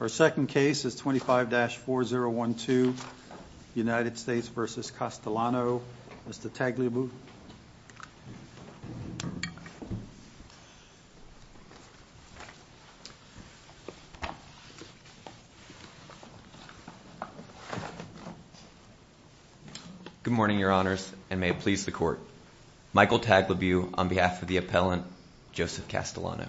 Our second case is 25-4012 United States v. Castellano. Mr. Tagliabue. Good morning your honors and may it please the court. Michael Tagliabue on behalf of the appellant Joseph Castellano.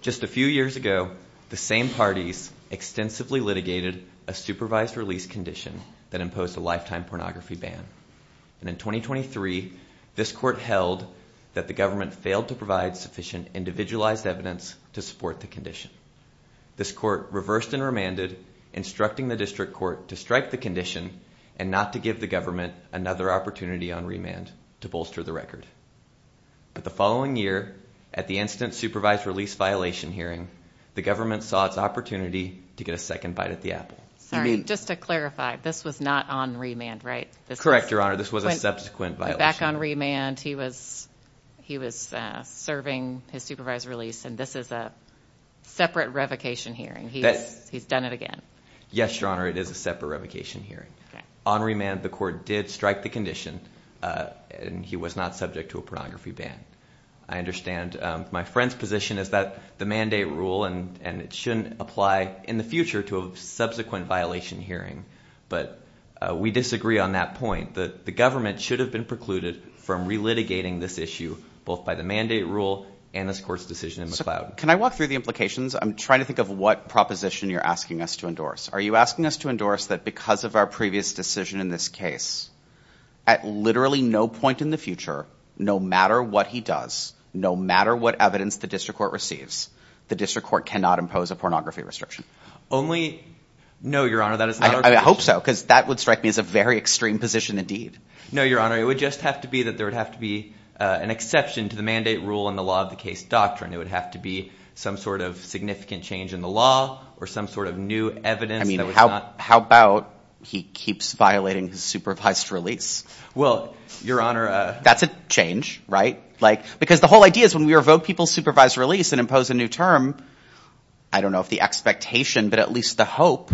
Just a few years ago the same parties extensively litigated a supervised release condition that imposed a lifetime pornography ban and in 2023 this court held that the government failed to provide sufficient individualized evidence to support the condition. This court reversed and remanded instructing the district court to strike the condition and not to give the government another opportunity on remand to bolster the record. But the following year at the incident supervised release violation hearing the government saw its opportunity to get a second bite at the apple. Sorry just to clarify this was not on remand right? Correct your honor this was a subsequent violation. Back on remand he was he was serving his supervised release and this is a separate revocation hearing. He's done it again. Yes your honor it is a separate revocation hearing. On remand the court did strike the condition and he was not subject to a pornography ban. I friend's position is that the mandate rule and and it shouldn't apply in the future to a subsequent violation hearing but we disagree on that point that the government should have been precluded from re-litigating this issue both by the mandate rule and this court's decision in McLeod. Can I walk through the implications? I'm trying to think of what proposition you're asking us to endorse. Are you asking us to endorse that because of our previous decision in this case at literally no point in the future no matter what he does no matter what evidence the district court receives the district court cannot impose a pornography restriction? Only no your honor that is not our position. I hope so because that would strike me as a very extreme position indeed. No your honor it would just have to be that there would have to be an exception to the mandate rule in the law of the case doctrine. It would have to be some sort of significant change in the law or some sort of new evidence. I mean how about he keeps violating his supervised release? Well your honor. That's a change right? Like because the whole idea is when we revoke people's supervised release and impose a new term I don't know if the expectation but at least the hope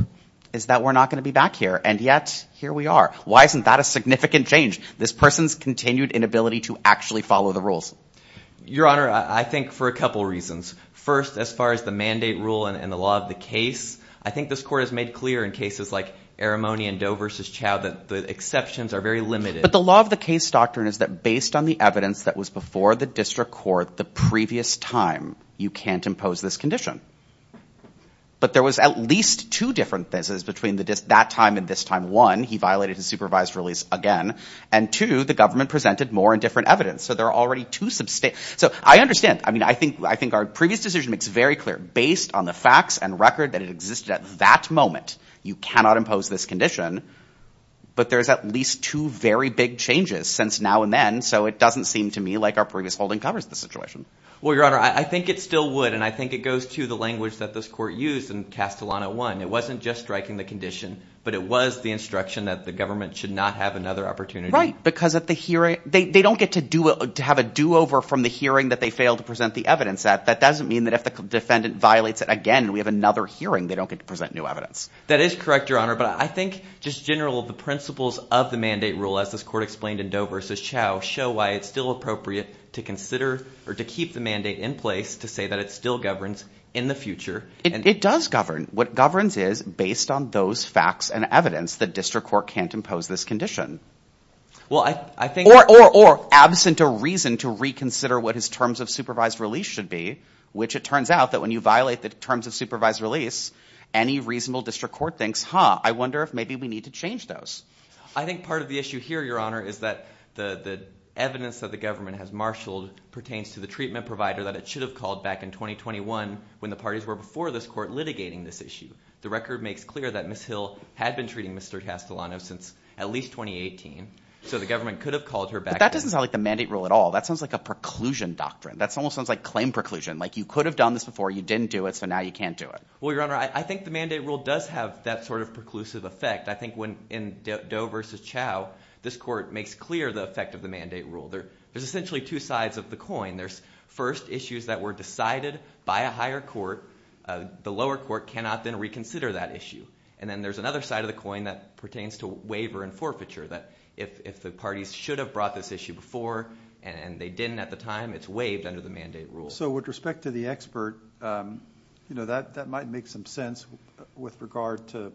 is that we're not going to be back here and yet here we are. Why isn't that a significant change? This person's continued inability to actually follow the rules. Your honor I think for a couple reasons. First as far as the mandate rule and the law of the case I think this court has made clear in cases like Eremonia and Doe versus Chow that the exceptions are very limited. But the law of the case doctrine is that based on the evidence that was before the district court the previous time you can't impose this condition. But there was at least two different things between that time and this time. One he violated his supervised release again and two the government presented more and different evidence. So there are already two substantial. So I understand. I mean I think I think our previous decision makes very clear based on the facts and record that it existed at that moment you cannot impose this condition but there's at least two very big changes since now and then so it doesn't seem to me like our previous holding covers the situation. Well your honor I think it still would and I think it goes to the language that this court used in Castellano 1. It wasn't just striking the condition but it was the instruction that the government should not have another opportunity. Right because at the hearing they don't get to do it to have a do-over from the hearing that they failed to present the evidence at. That doesn't mean that if the defendant violates it again we have another hearing they don't get to new evidence. That is correct your honor but I think just general the principles of the mandate rule as this court explained in Doe versus Chau show why it's still appropriate to consider or to keep the mandate in place to say that it still governs in the future. It does govern what governs is based on those facts and evidence that district court can't impose this condition. Well I think or or or absent a reason to reconsider what his terms of supervised release should be which it turns out that when you violate the terms of supervised release any reasonable district court thinks huh I wonder if maybe we need to change those. I think part of the issue here your honor is that the the evidence that the government has marshaled pertains to the treatment provider that it should have called back in 2021 when the parties were before this court litigating this issue. The record makes clear that Miss Hill had been treating Mr. Castellano since at least 2018 so the government could have called her back. That doesn't sound like the mandate rule at all. That sounds like a preclusion doctrine. That's almost sounds like claim preclusion like you could have done this before you didn't do it so now you can't do it. Well your honor I think the mandate rule does have that sort of preclusive effect. I think when in Doe versus Chau this court makes clear the effect of the mandate rule. There there's essentially two sides of the coin. There's first issues that were decided by a higher court. The lower court cannot then reconsider that issue and then there's another side of the coin that pertains to waiver and forfeiture that if if the parties should have brought this issue before and they didn't at the time it's waived under the mandate rule. So with respect to the expert you know that that might make some sense with regard to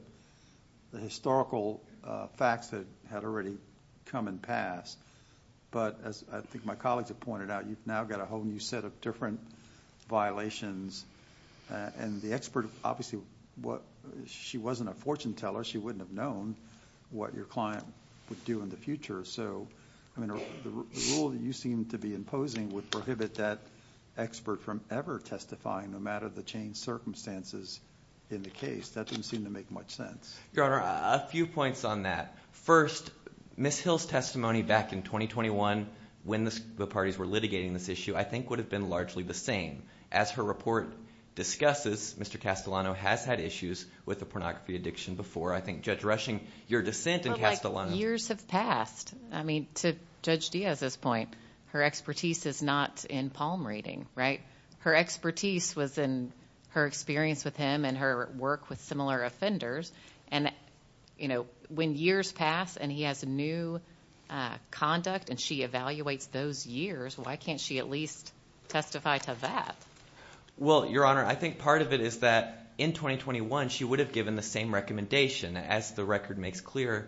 the historical facts that had already come and passed but as I think my colleagues have pointed out you've now got a whole new set of different violations and the expert obviously what she wasn't a fortune teller she wouldn't have known what your client would do in the future. So I mean the rule that you seem to be imposing would prohibit that expert from ever testifying no matter the change circumstances in the case that didn't seem to make much sense. Your honor a few points on that. First Miss Hill's testimony back in 2021 when the parties were litigating this issue I think would have been largely the same. As her report discusses Mr. Castellano has had issues with the pornography addiction before. I think Judge Rushing your dissent in Castellano. Years have passed I mean to Judge Diaz's point her expertise is not in palm reading right. Her expertise was in her experience with him and her work with similar offenders and you know when years pass and he has a new conduct and she evaluates those years why can't she at least testify to that. Well your honor I think part of it is that in 2021 she would have given the same recommendation as the record makes clear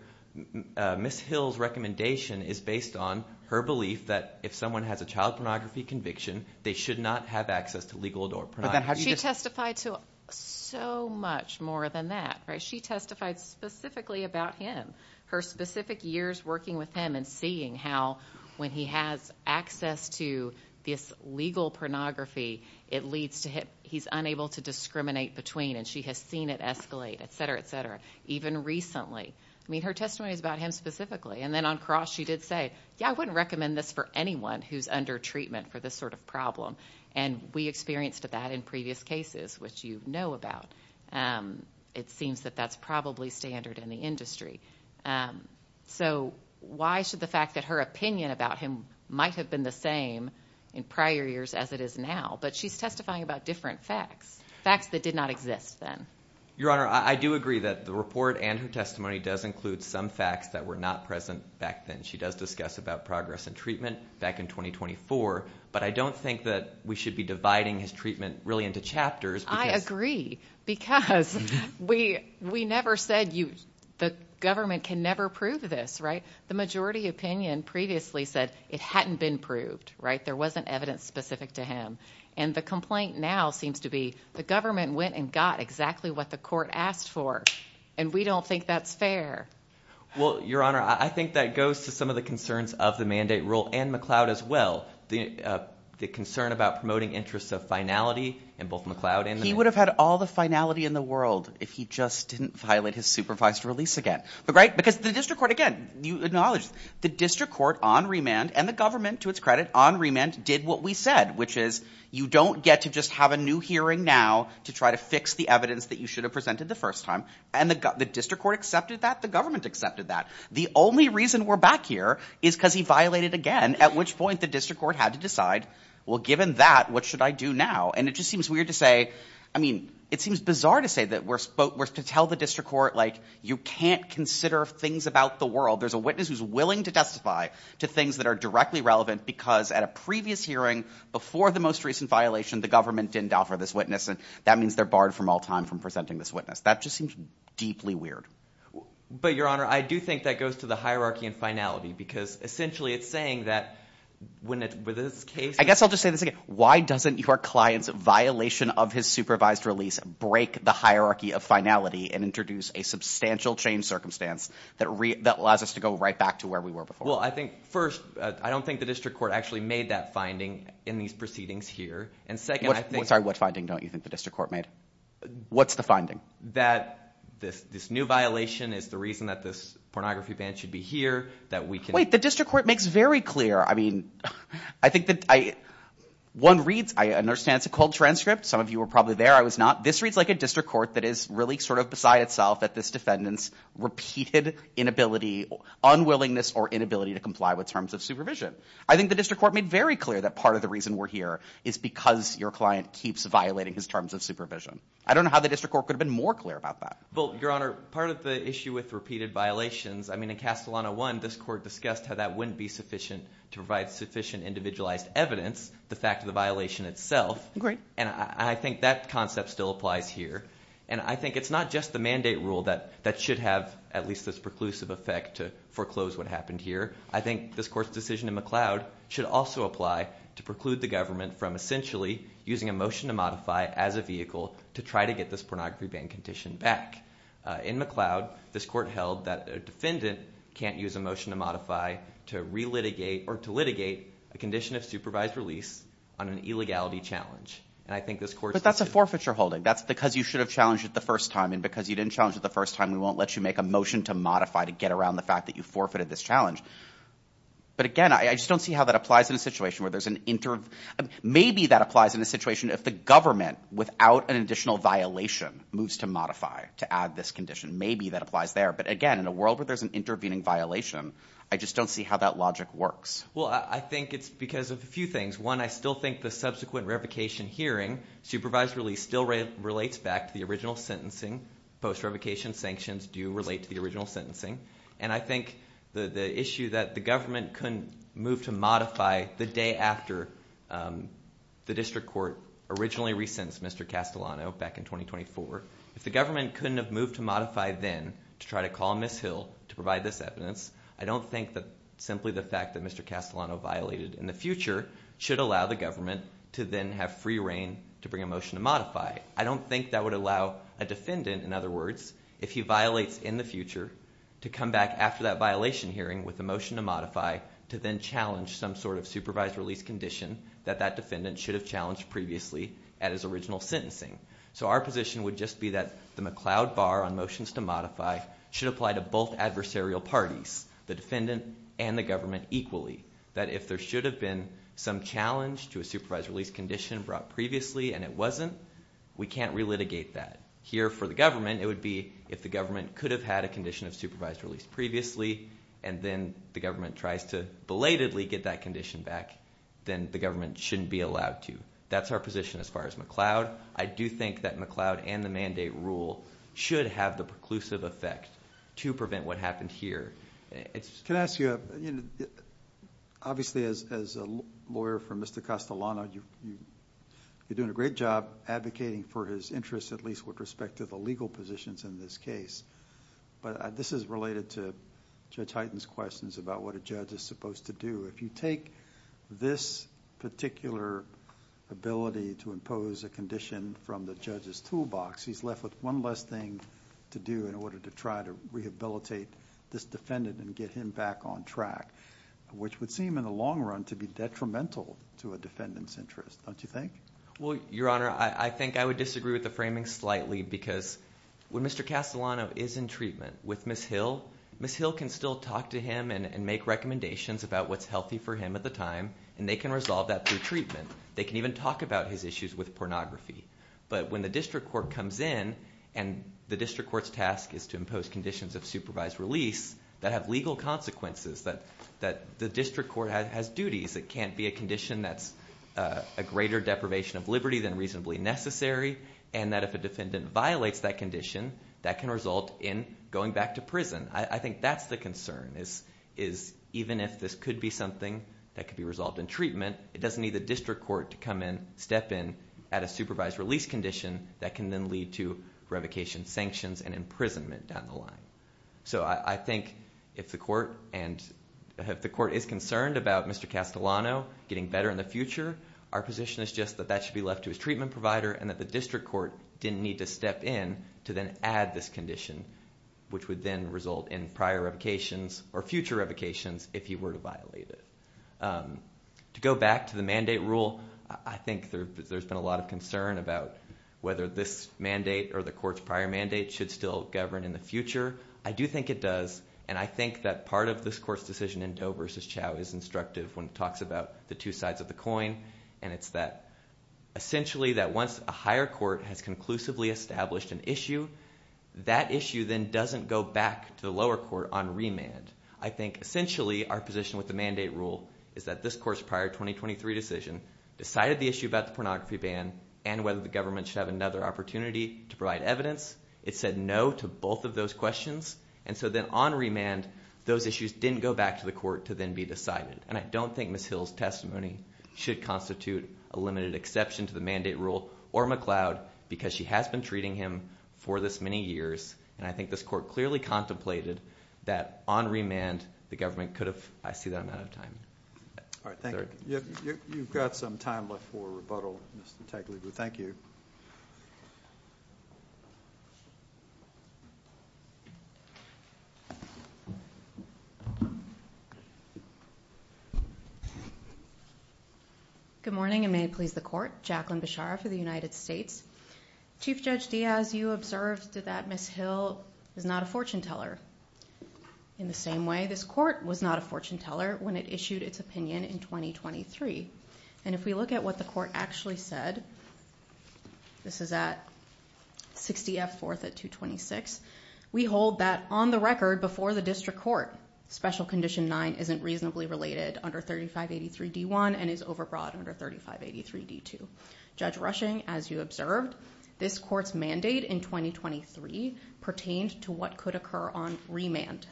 Miss Hill's recommendation is based on her belief that if someone has a child pornography conviction they should not have access to legal adornment. She testified to so much more than that right. She testified specifically about him. Her specific years working with him and seeing how when he has access to this legal pornography it leads to him he's unable to discriminate between and she has seen it escalate etc etc even recently. I mean her testimony is about him specifically and then on cross she did say yeah I wouldn't recommend this for anyone who's under treatment for this sort of problem and we experienced that in previous cases which you know about. It seems that that's probably standard in the industry. So why should the fact that her opinion about him might have been the same in prior years as it is now but she's testifying about different facts. Facts that did not exist then. Your honor I do agree that the report and her testimony does include some facts that were not present back then. She does discuss about progress and treatment back in 2024 but I don't think that we should be dividing his treatment really into chapters. I agree because we we never said you the government can never prove this right. The majority opinion previously said it hadn't been proved right. There wasn't evidence specific to him and the complaint now seems to be the government went and got exactly what the court asked for and we don't think that's fair. Well your honor I think that goes to some of the concerns of the mandate rule and McLeod as well. The concern about promoting interests of finality and both McLeod and he would have had all the finality in the world if he just didn't violate his supervised release again. But right because the district court again you acknowledge the district court on remand and the government to its credit on remand did what we said which is you don't get to just have a new hearing now to try to fix the evidence that you should have presented the first time and the district court accepted that the government accepted that. The only reason we're back here is because he violated again at which point the district court had to decide well given that what should I do now and it just seems weird to say I mean it seems bizarre to say that we're supposed to tell the district court like you can't consider things about the world there's a witness who's willing to testify to things that are directly relevant because at a previous hearing before the most recent violation the government didn't offer this witness and that means they're barred from all time from presenting this witness that just seems deeply weird. But your honor I do think that goes to the hierarchy and finality because essentially it's saying that when it with this case I guess I'll just say this again why doesn't your clients violation of his supervised release break the hierarchy of finality and introduce a substantial change in circumstance that allows us to go right back to where we were before. Well I think first I don't think the district court actually made that finding in these proceedings here and second I think. Sorry what finding don't you think the district court made? What's the finding? That this new violation is the reason that this pornography ban should be here that we can. Wait the district court makes very clear I mean I think that I one reads I understand it's a cold transcript some of you were probably there I was not this reads like a district court that is really sort of beside itself that this defendants repeated inability unwillingness or inability to comply with terms of supervision. I think the district court made very clear that part of the reason we're here is because your client keeps violating his terms of supervision. I don't know how the district court could have been more clear about that. Well your honor part of the issue with repeated violations I mean in Castellano 1 this court discussed how that wouldn't be sufficient to provide sufficient individualized evidence the fact of the violation itself. Great. And I think that concept still applies here and I think it's not just the mandate rule that that should have at least this preclusive effect to foreclose what happened here. I think this court's decision in McLeod should also apply to preclude the government from essentially using a motion to modify as a vehicle to try to get this pornography ban condition back. In McLeod this court held that a defendant can't use a motion to modify to relitigate or to litigate a condition of supervised release on an illegality challenge and I think this court. But that's a forfeiture holding that's because you should have challenged it the first time and because you didn't challenge it the first time we won't let you make a motion to modify to get around the fact that you forfeited this challenge. But again I just don't see how that applies in a situation where there's an interim maybe that applies in a situation if the government without an additional violation moves to modify to add this condition maybe that applies there but again in a world where there's an intervening violation I just don't see how that logic works. Well I think it's because of a few things one I still think the subsequent revocation hearing supervised release still relates back to the original sentencing. Post revocation sanctions do relate to the original sentencing and I think the the issue that the government couldn't move to modify the day after the district court originally re-sentenced Mr. Castellano back in 2024. If the government couldn't have moved to modify then to try to call Miss Hill to provide this evidence I don't think that simply the fact that Mr. Castellano violated in the future should allow the government to then have free reign to bring a motion to modify. I don't think that would allow a defendant in other words if he violates in the future to come back after that violation hearing with the motion to modify to then challenge some sort of supervised release condition that that defendant should have challenged previously at his original sentencing. So our position would just be that the McLeod bar on motions to modify should apply to both adversarial parties the defendant and the government equally that if there should have been some challenge to a supervised release condition brought previously and it wasn't we can't re-litigate that. Here for the government it would be if the government could have had a condition of supervised release previously and then the government tries to belatedly get that condition back then the government shouldn't be allowed to. That's our position as far as McLeod. I do think that McLeod and the mandate rule should have the preclusive effect to prevent what happened here................. Well your honor, I think I would disagree with the framing slightly because, when Mr. Castleano is in treatment with Ms. Hyll, Ms. Hyll can still talk to him and make recommendations about what is healthy for him at the time, and they can resolve that through treatment. They can even talk about his issues with pornography. But when the district court comes in, and the district court's task is to impose conditions of supervised release, that have legal consequences. The district court has duties. It can't be a condition that's a greater deprivation of liberty than reasonably necessary, and that if a defendant violates that condition, that can result in going back to prison. I think that's the concern, is even if this could be something that could be resolved in treatment, it doesn't need the district court to come in, step in at a supervised release condition that can then lead to revocation sanctions and imprisonment down the line. So I think if the court is concerned about Mr. Castleano getting better in the future, our position is just that that should be left to his treatment provider and that the district court didn't need to step in to then add this condition, which would then result in prior revocations or future revocations if he were to violate it. To go back to the mandate rule, I think there's been a lot of concern about whether this mandate or the court's prior mandate should still govern in the future. I do think it does. I think that part of this court's decision in Doe versus Chau is instructive when it talks about the two sides of the coin, and it's that essentially that once a higher court has conclusively established an issue, that issue then doesn't go back to the lower court on remand. I think essentially our position with the mandate rule is that this court's prior 2023 decision decided the issue about the pornography ban and whether the government should have another opportunity to provide evidence. It said no to both of those questions, and so then on remand, those issues didn't go back to the court to then be decided, and I don't think Ms. Hill's testimony should constitute a limited exception to the mandate rule or McLeod because she has been treating him for this many years, and I think this court clearly contemplated that on remand, the government could have asked you that amount of time. All right. Thank you. You've got some time left for rebuttal, Mr. Tagliabue. Thank you. Good morning, and may it please the court. Jacqueline Bechara for the United States. Chief Judge Diaz, you observed that Ms. Hill is not a fortune teller. In the same way, this court was not a fortune teller when it issued its opinion in 2023. If we look at what the court actually said, this is at 60 F 4th at 226, we hold that on the record before the district court, special condition nine isn't reasonably related under 3583 D1 and is overbroad under 3583 D2. Judge Rushing, as you observed, this court's mandate in 2023 pertained to what could occur on remand.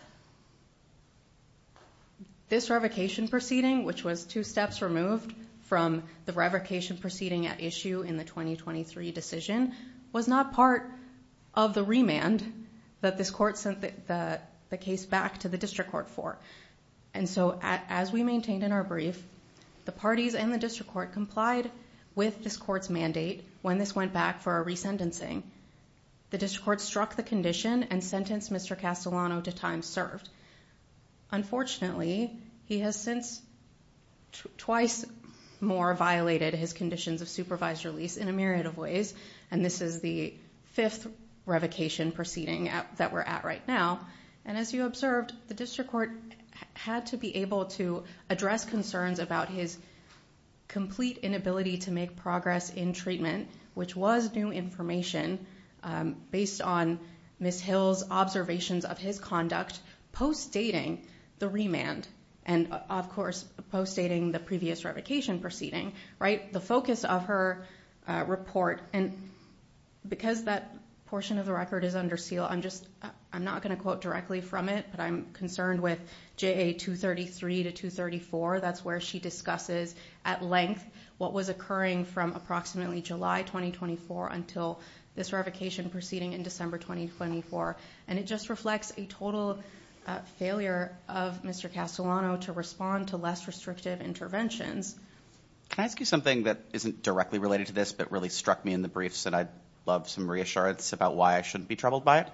This revocation proceeding, which was two steps removed from the revocation proceeding at issue in the 2023 decision, was not part of the remand that this court sent the case back to the district court for. As we maintained in our brief, the parties and the district court complied with this court's mandate when this went back for a resentencing. The district court struck the condition and sentenced Mr. Castellano to two years in prison. Unfortunately, he has since twice more violated his conditions of supervised release in a myriad of ways. This is the fifth revocation proceeding that we're at right now. As you observed, the district court had to be able to address concerns about his complete inability to make progress in treatment, which was new information based on Ms. Hill's observations of his conduct post-dating the remand and, of course, post-dating the previous revocation proceeding. The focus of her report, because that portion of the record is under seal, I'm not going to quote directly from it, but I'm concerned with JA 233 to 234. That's where she discusses at length what was occurring from approximately July 2024 until this revocation proceeding in December 2024. It just reflects a total failure of Mr. Castellano to respond to less restrictive interventions. Can I ask you something that isn't directly related to this but really struck me in the briefs and I'd love some reassurance about why I shouldn't be troubled by it?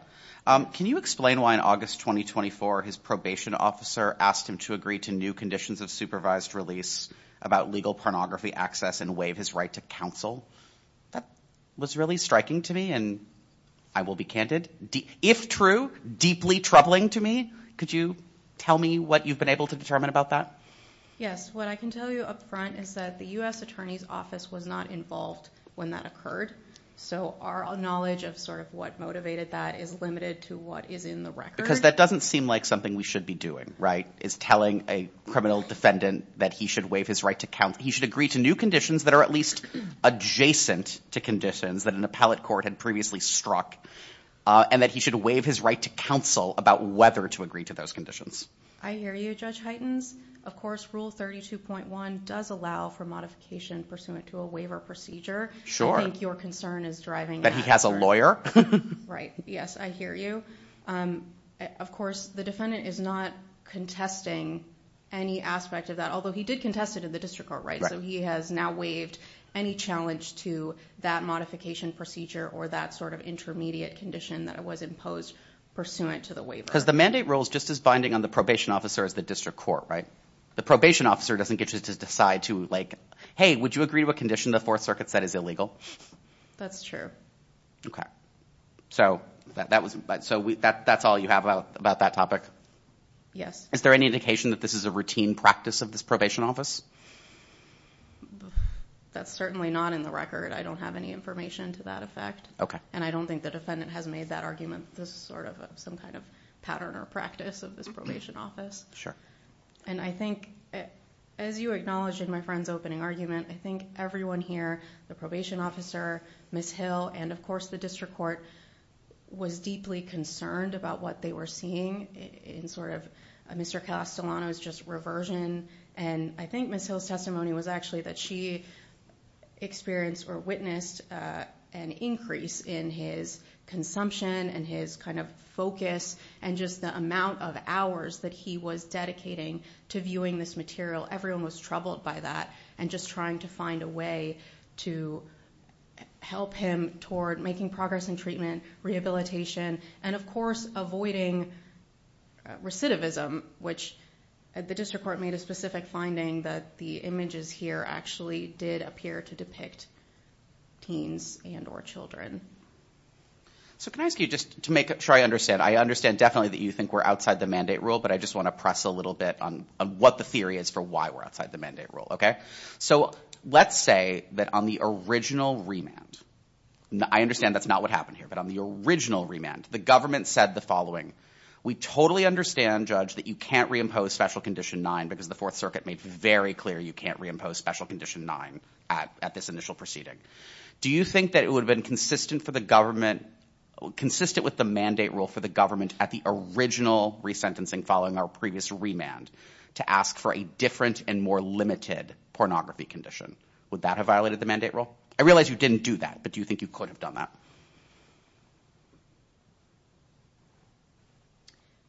Can you explain why in August 2024 his probation officer asked him to agree to new conditions of supervised release about legal pornography access and waive his right to counsel? That was really striking to me and I will be candid. If true, deeply troubling to me. Could you tell me what you've been able to determine about that? Yes. What I can tell you up front is that the U.S. Attorney's Office was not involved when that occurred, so our knowledge of sort of what motivated that is limited to what is in the record. Because that doesn't seem like something we should be doing, right, is telling a criminal defendant that he should waive his right to counsel. He should agree to new conditions that are at least adjacent to conditions that an appellate court had previously struck and that he should waive his right to counsel about whether to agree to those conditions. I hear you, Judge Heitens. Of course, Rule 32.1 does allow for modification pursuant to a waiver procedure. Sure. I think your concern is driving that. That he has a lawyer? Right. Yes, I hear you. Of course, the defendant is not contesting any aspect of that, although he did contest it in the district court, right? Right. So he has now waived any challenge to that modification procedure or that sort of intermediate condition that was imposed pursuant to the waiver. Because the mandate rules just as binding on the probation officer as the district court, right? The probation officer doesn't get to decide to, like, hey, would you agree to a condition the Fourth Circuit said is illegal? That's true. Okay. So that's all you have about that topic? Yes. Is there any indication that this is a routine practice of this probation office? That's certainly not in the record. I don't have any information to that effect. Okay. And I don't think the defendant has made that argument as sort of some kind of pattern or practice of this probation office. Sure. And I think, as you acknowledged in my friend's opening argument, I think everyone here, the probation officer, Ms. Hill, and of course the district court was deeply concerned about what they were seeing in sort of Mr. Castellano's just reversion and I think Ms. Hill's testimony was actually that she experienced or witnessed an increase in his consumption and his kind of focus and just the amount of hours that he was dedicating to viewing this material. Everyone was troubled by that and just trying to find a way to help him toward making progress in treatment, rehabilitation, and of course avoiding recidivism, which the district court made a specific finding that the images here actually did appear to depict teens and or children. So can I ask you just to make sure I understand. I understand definitely that you think we're outside the mandate rule, but I just want to press a little bit on what the theory is for why we're outside the mandate rule. Okay. So let's say that on the original remand, I understand that's not what happened here, but on the original remand, the government said the following, we totally understand judge that you can't reimpose special condition nine because the fourth circuit made very clear you can't reimpose special condition nine at this initial proceeding. Do you think that it would have been consistent for the government, consistent with the mandate rule for the government at the original resentencing following our previous remand to ask for a different and more limited pornography condition? Would that have violated the mandate rule? I realize you didn't do that, but do you think you could have done that?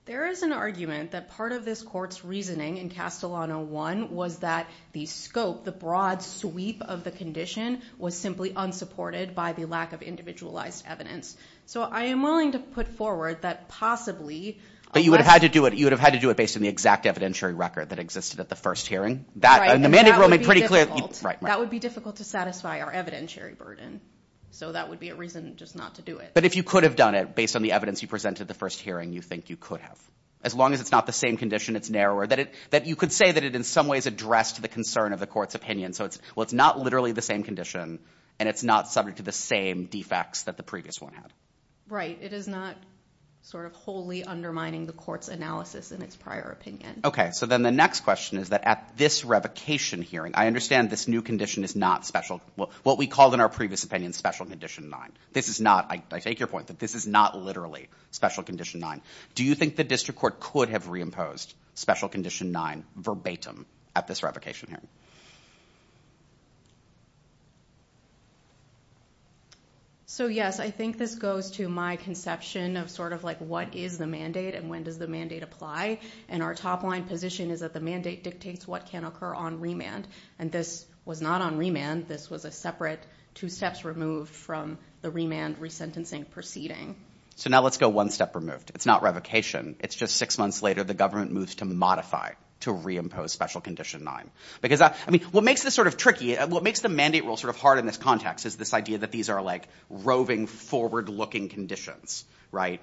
There is an argument that part of this court's reasoning in Castellano one was that the scope, the broad sweep of the condition was simply unsupported by the lack of individualized evidence. So I am willing to put forward that possibly. You would have had to do it. You would have had to do it based on the exact evidentiary record that existed at the first hearing. That would be difficult to satisfy our evidentiary burden. So that would be a reason just not to do it. But if you could have done it based on the evidence you presented the first hearing, you think you could have. As long as it's not the same condition, it's narrower, that you could say that it in some ways addressed the concern of the court's opinion. So it's, well, it's not literally the same condition and it's not subject to the same defects that the previous one had. Right. It is not sort of wholly undermining the court's analysis in its prior opinion. Okay. So then the next question is that at this revocation hearing, I understand this new condition is not special, what we called in our previous opinion, special condition nine. This is not, I take your point that this is not literally special condition nine. Do you think the district court could have reimposed special condition nine verbatim at this revocation hearing? So yes, I think this goes to my conception of sort of like what is the mandate and when does the mandate apply? And our top line position is that the mandate dictates what can occur on And this was not on remand. This was a separate two steps removed from the remand resentencing proceeding. So now let's go one step removed. It's not revocation. It's just six months later, the government moves to modify, to reimpose special condition nine. Because I mean, what makes this sort of tricky, what makes the mandate rule sort of hard in this context is this idea that these are like roving forward looking conditions, right?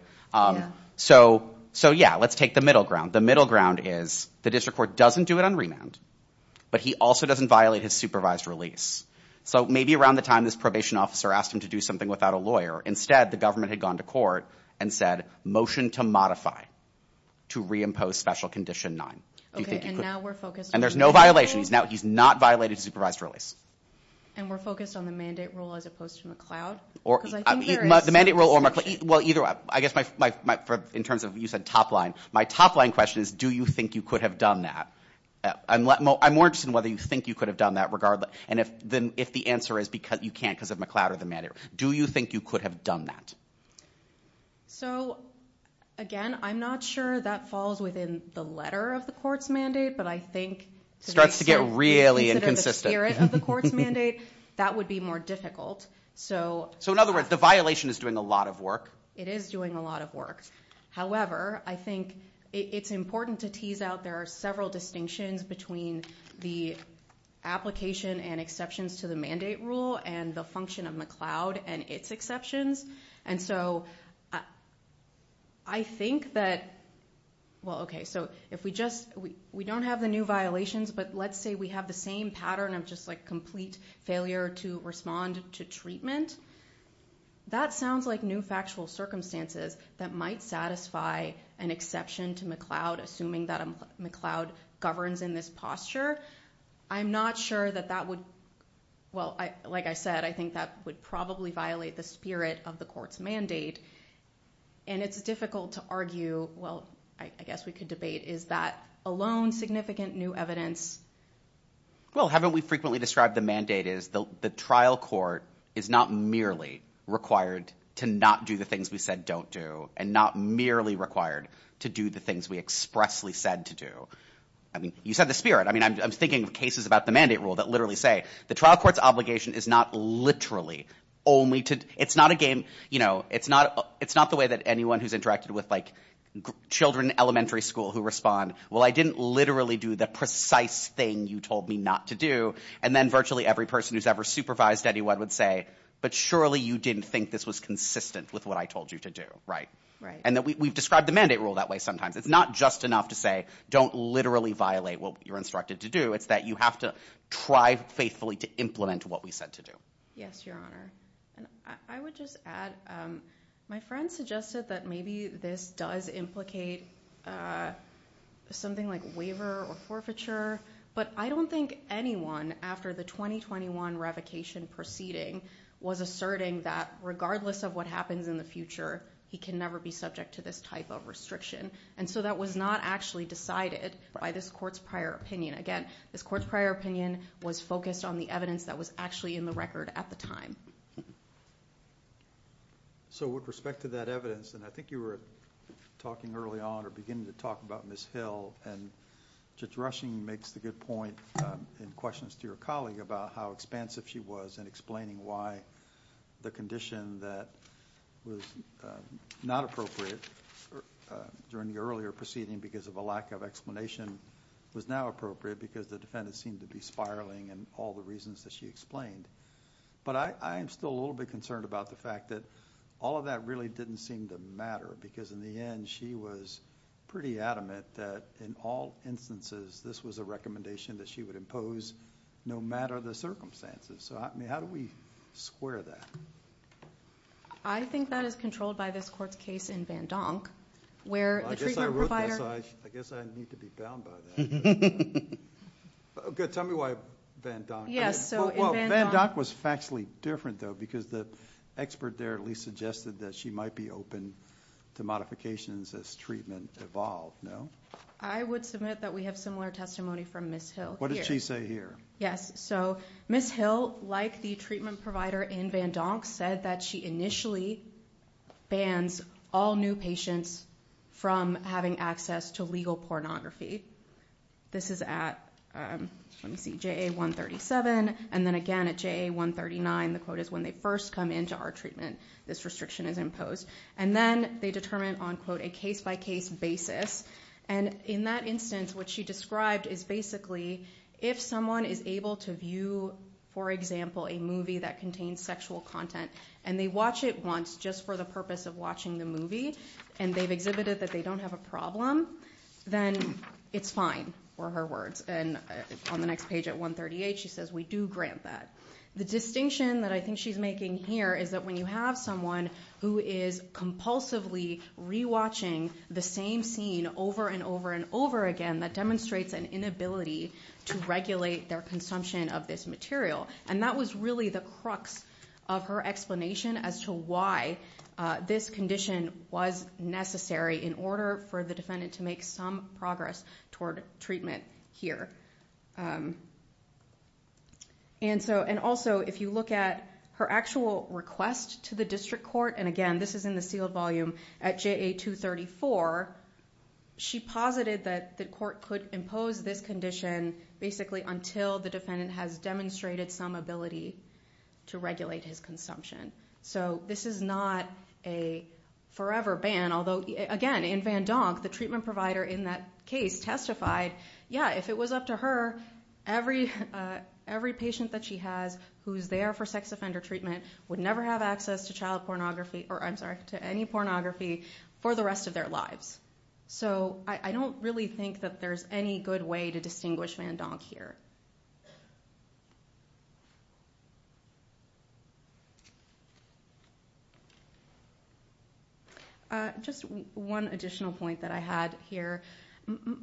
So, so yeah, let's take the middle ground. The middle ground is the district court doesn't do it on remand, but he also doesn't violate his supervised release. So maybe around the time this probation officer asked him to do something without a lawyer, instead the government had gone to court and said motion to modify to reimpose special condition nine. And there's no violations. Now he's not violated supervised release. And we're focused on the mandate rule as opposed to McLeod? The mandate rule or McLeod, well, either, I guess my, my, my, for, in terms of you said top line, my top line question is, do you think you could have done that? I'm more interested in whether you think you could have done that regardless. And if the, if the answer is because you can't because of McLeod or the mandate, do you think you could have done that? So again, I'm not sure that falls within the letter of the court's mandate, but I think. It starts to get really inconsistent. Consider the spirit of the court's mandate, that would be more difficult. So. So in other words, the violation is doing a lot of work. It is doing a lot of work. However, I think it's important to tease out, there are several distinctions between the application and exceptions to the mandate rule and the function of McLeod and its exceptions. And so I think that, well, okay, so if we just, we, we don't have the new violations, but let's say we have the same pattern of just like complete failure to respond to treatment. That sounds like new factual circumstances that might satisfy an exception to McLeod, assuming that McLeod governs in this posture. I'm not sure that that would, well, I, like I said, I think that would probably violate the spirit of the court's mandate. And it's difficult to argue, well, I guess we could debate, is that alone significant new evidence? Well, haven't we frequently described the mandate is the trial court is not merely required to not do the things we said don't do and not merely required to do the things we expressly said to do. I mean, you said the spirit, I mean, I'm thinking of cases about the mandate rule that literally say the trial court's obligation is not literally only to, it's not a game, you know, it's not, it's not the way that anyone who's interacted with like children, elementary school who respond, well, I didn't literally do the precise thing you told me not to do. And then virtually every person who's ever supervised anyone would say, but surely you didn't think this was consistent with what I told you to do. Right? Right. And that we've described the mandate rule that way sometimes. It's not just enough to say, don't literally violate what you're instructed to do, it's that you have to try faithfully to implement what we said to do. Yes, your honor. And I would just add, my friend suggested that maybe this does implicate something like waiver or forfeiture, but I don't think anyone after the 2021 revocation proceeding was asserting that regardless of what happens in the future, he can never be subject to this type of restriction. And so that was not actually decided by this court's prior opinion. Again, this court's prior opinion was focused on the evidence that was actually in the record at the time. So with respect to that evidence, and I think you were talking early on or beginning to talk about Ms. Hill, and Judge Rushing makes the good point in questions to your colleague about how expansive she was in explaining why the condition that was not appropriate during the earlier proceeding because of a lack of explanation was now appropriate because the defendant seemed to be spiraling and all the reasons that she explained. But I am still a little bit concerned about the fact that all of that really didn't seem to matter because in the end, she was pretty adamant that in all instances, this was a recommendation that she would impose no matter the circumstances. So I mean, how do we square that? I think that is controlled by this court's case in Van Donk where the treatment provider... I guess I need to be bound by that. Okay. Tell me why Van Donk. Yes. So in Van Donk... Well, Van Donk was factually different though because the expert there at least suggested that she might be open to modifications as treatment evolved, no? I would submit that we have similar testimony from Ms. Hill here. What did she say here? Yes. So Ms. Hill, like the treatment provider in Van Donk, said that she initially bans all new patients from having access to legal pornography. This is at, let me see, JA 137, and then again at JA 139, the quote is when they first come into our treatment, this restriction is imposed. And then they determine on, quote, a case-by-case basis. And in that instance, what she described is basically if someone is able to view, for example, a movie that contains sexual content and they watch it once just for the purpose of watching the movie and they've exhibited that they don't have a problem, then it's fine, were her words. And on the next page at 138, she says we do grant that. The distinction that I think she's making here is that when you have someone who is compulsively re-watching the same scene over and over and over again, that demonstrates an inability to regulate their consumption of this material. And that was really the crux of her explanation as to why this condition was necessary in order for the defendant to make some progress toward treatment here. And also, if you look at her actual request to the district court, and again, this is in the sealed volume, at JA 234, she posited that the court could impose this condition basically until the defendant has demonstrated some ability to regulate his consumption. So this is not a forever ban, although again, in Van Donk, the treatment goes up to her, every patient that she has who's there for sex offender treatment would never have access to child pornography, or I'm sorry, to any pornography for the rest of their lives. So I don't really think that there's any good way to distinguish Van Donk here. Just one additional point that I had here.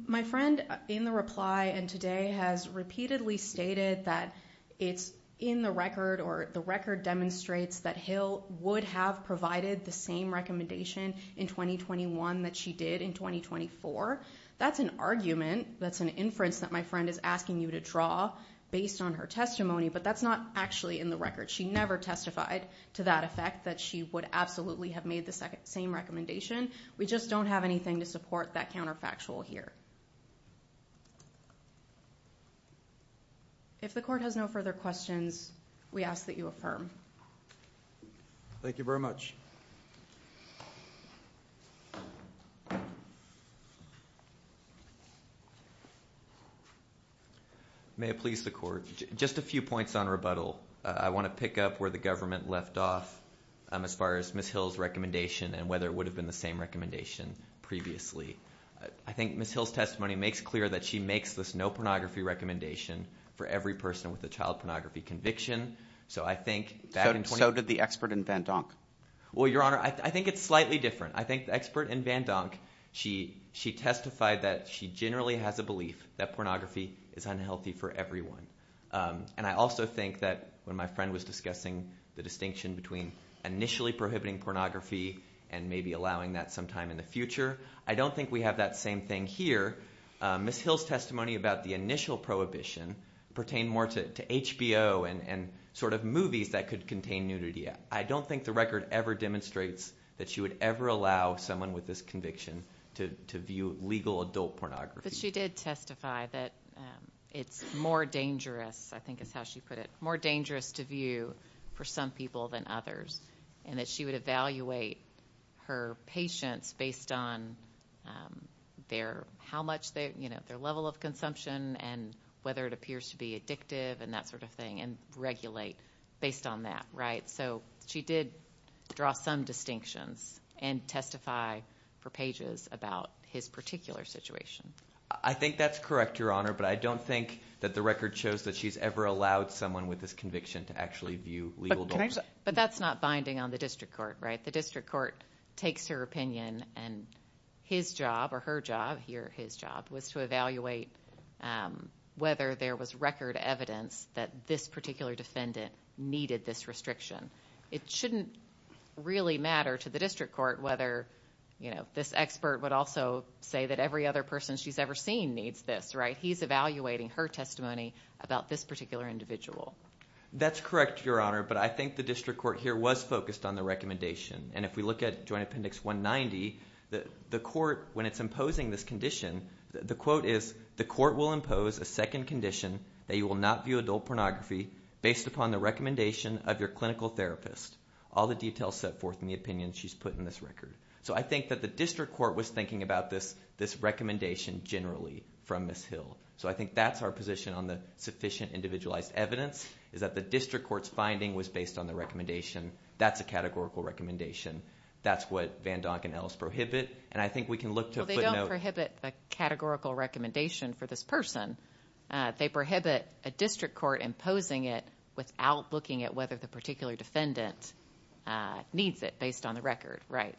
My friend in the reply and today has repeatedly stated that it's in the record or the record demonstrates that Hill would have provided the same recommendation in 2021 that she did in 2024. That's an argument, that's an inference that my friend is asking you to draw based on her testimony, but that's not actually in the record. She never testified to that effect that she would absolutely have made the same recommendation. We just don't have anything to support that counterfactual here. If the court has no further questions, we ask that you affirm. Thank you very much. May it please the court. Just a few points on rebuttal. I want to pick up where the government left off as far as Miss Hill's recommendation and whether it would have been the same recommendation previously. I think Miss Hill's testimony makes clear that she makes this no pornography recommendation for every person with a child pornography conviction. So I think back in- So did the expert in Van Donk? Well, Your Honor, I think it's slightly different. I think the expert in Van Donk, she testified that she generally has a belief that pornography is unhealthy for everyone. And I also think that when my friend was discussing the distinction between initially prohibiting pornography and maybe allowing that sometime in the future, I don't think we have that same thing here. Miss Hill's testimony about the initial prohibition pertained more to HBO and sort of movies that could contain nudity. I don't think the record ever demonstrates that she would ever allow someone with this conviction to view legal adult pornography. But she did testify that it's more dangerous, I think is how she put it, more dangerous to view for some people than others. And that she would evaluate her patients based on their, how much they, you know, their level of consumption and whether it appears to be addictive and that sort of thing and regulate based on that, right? So she did draw some distinctions and testify for pages about his particular situation. I think that's correct, Your Honor, but I don't think that the record shows that she's ever allowed someone with this conviction to actually view legal adult. But that's not binding on the district court, right? The district court takes her opinion and his job or her job, he or his job was to evaluate whether there was record evidence that this particular defendant needed this restriction. It shouldn't really matter to the district court whether, you know, this expert would also say that every other person she's ever seen needs this, right? He's evaluating her testimony about this particular individual. That's correct, Your Honor, but I think the district court here was focused on the recommendation. And if we look at Joint Appendix 190, the court, when it's imposing this condition, the quote is, the court will impose a second condition that you will not view adult pornography based upon the recommendation of your clinical therapist. All the details set forth in the opinion she's put in this record. So I think that the district court was thinking about this recommendation generally from Ms. Hill. So I think that's our position on the sufficient individualized evidence, is that the district court's finding was based on the recommendation. That's a categorical recommendation. That's what Van Donk and Ellis prohibit. And I think we can look to put a note... Well, they don't prohibit the categorical recommendation for this person. They prohibit a district court imposing it without looking at whether the particular defendant needs it based on the record, right?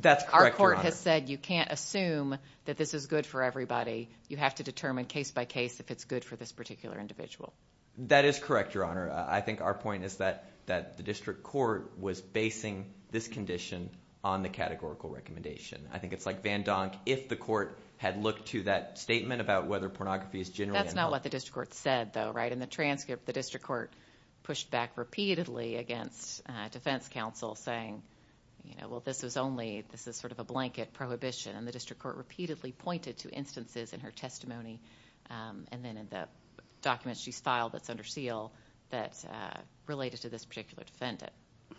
That's correct, Your Honor. And Van Donk has said, you can't assume that this is good for everybody. You have to determine case by case if it's good for this particular individual. That is correct, Your Honor. I think our point is that the district court was basing this condition on the categorical recommendation. I think it's like Van Donk, if the court had looked to that statement about whether pornography is generally... That's not what the district court said, though, right? In the transcript, the district court pushed back repeatedly against defense counsel saying, well, this is sort of a blanket prohibition. And the district court repeatedly pointed to instances in her testimony and then in the documents she's filed that's under SEAL that related to this particular defendant.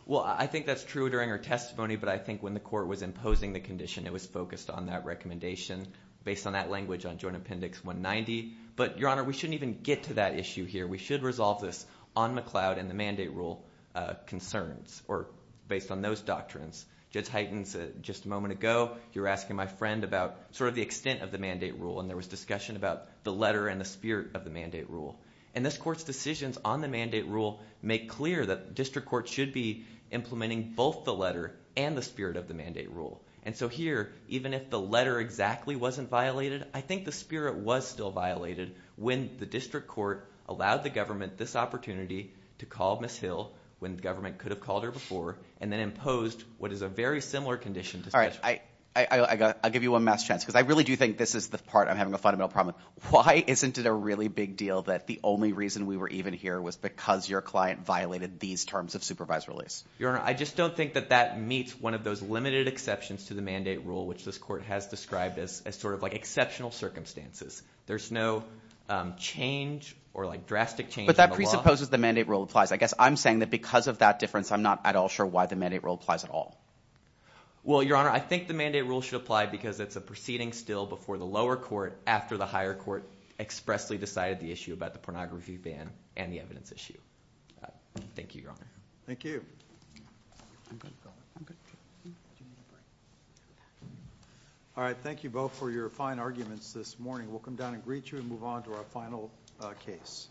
Well, I think that's true during her testimony, but I think when the court was imposing the condition, it was focused on that recommendation based on that language on Joint Appendix 190. But Your Honor, we shouldn't even get to that issue here. We should resolve this on McLeod and the mandate rule concerns or based on those doctrines. Judge Heitens, just a moment ago, you were asking my friend about sort of the extent of the mandate rule, and there was discussion about the letter and the spirit of the mandate rule. And this court's decisions on the mandate rule make clear that the district court should be implementing both the letter and the spirit of the mandate rule. And so here, even if the letter exactly wasn't violated, I think the spirit was still violated when the district court allowed the government this opportunity to call Miss Hill when the government could have called her before and then imposed what is a very similar condition to such. All right, I'll give you one last chance, because I really do think this is the part I'm having a fundamental problem. Why isn't it a really big deal that the only reason we were even here was because your client violated these terms of supervised release? Your Honor, I just don't think that that meets one of those limited exceptions to the mandate rule, which this court has described as sort of like exceptional circumstances. There's no change or drastic change in the law. But that presupposes the mandate rule applies. I guess I'm saying that because of that difference, I'm not at all sure why the mandate rule applies at all. Well, Your Honor, I think the mandate rule should apply, because it's a proceeding still before the lower court, after the higher court expressly decided the issue about the pornography ban and the evidence issue. Thank you, Your Honor. Thank you. All right, thank you both for your fine arguments this morning. We'll come down and greet you and move on to our final case.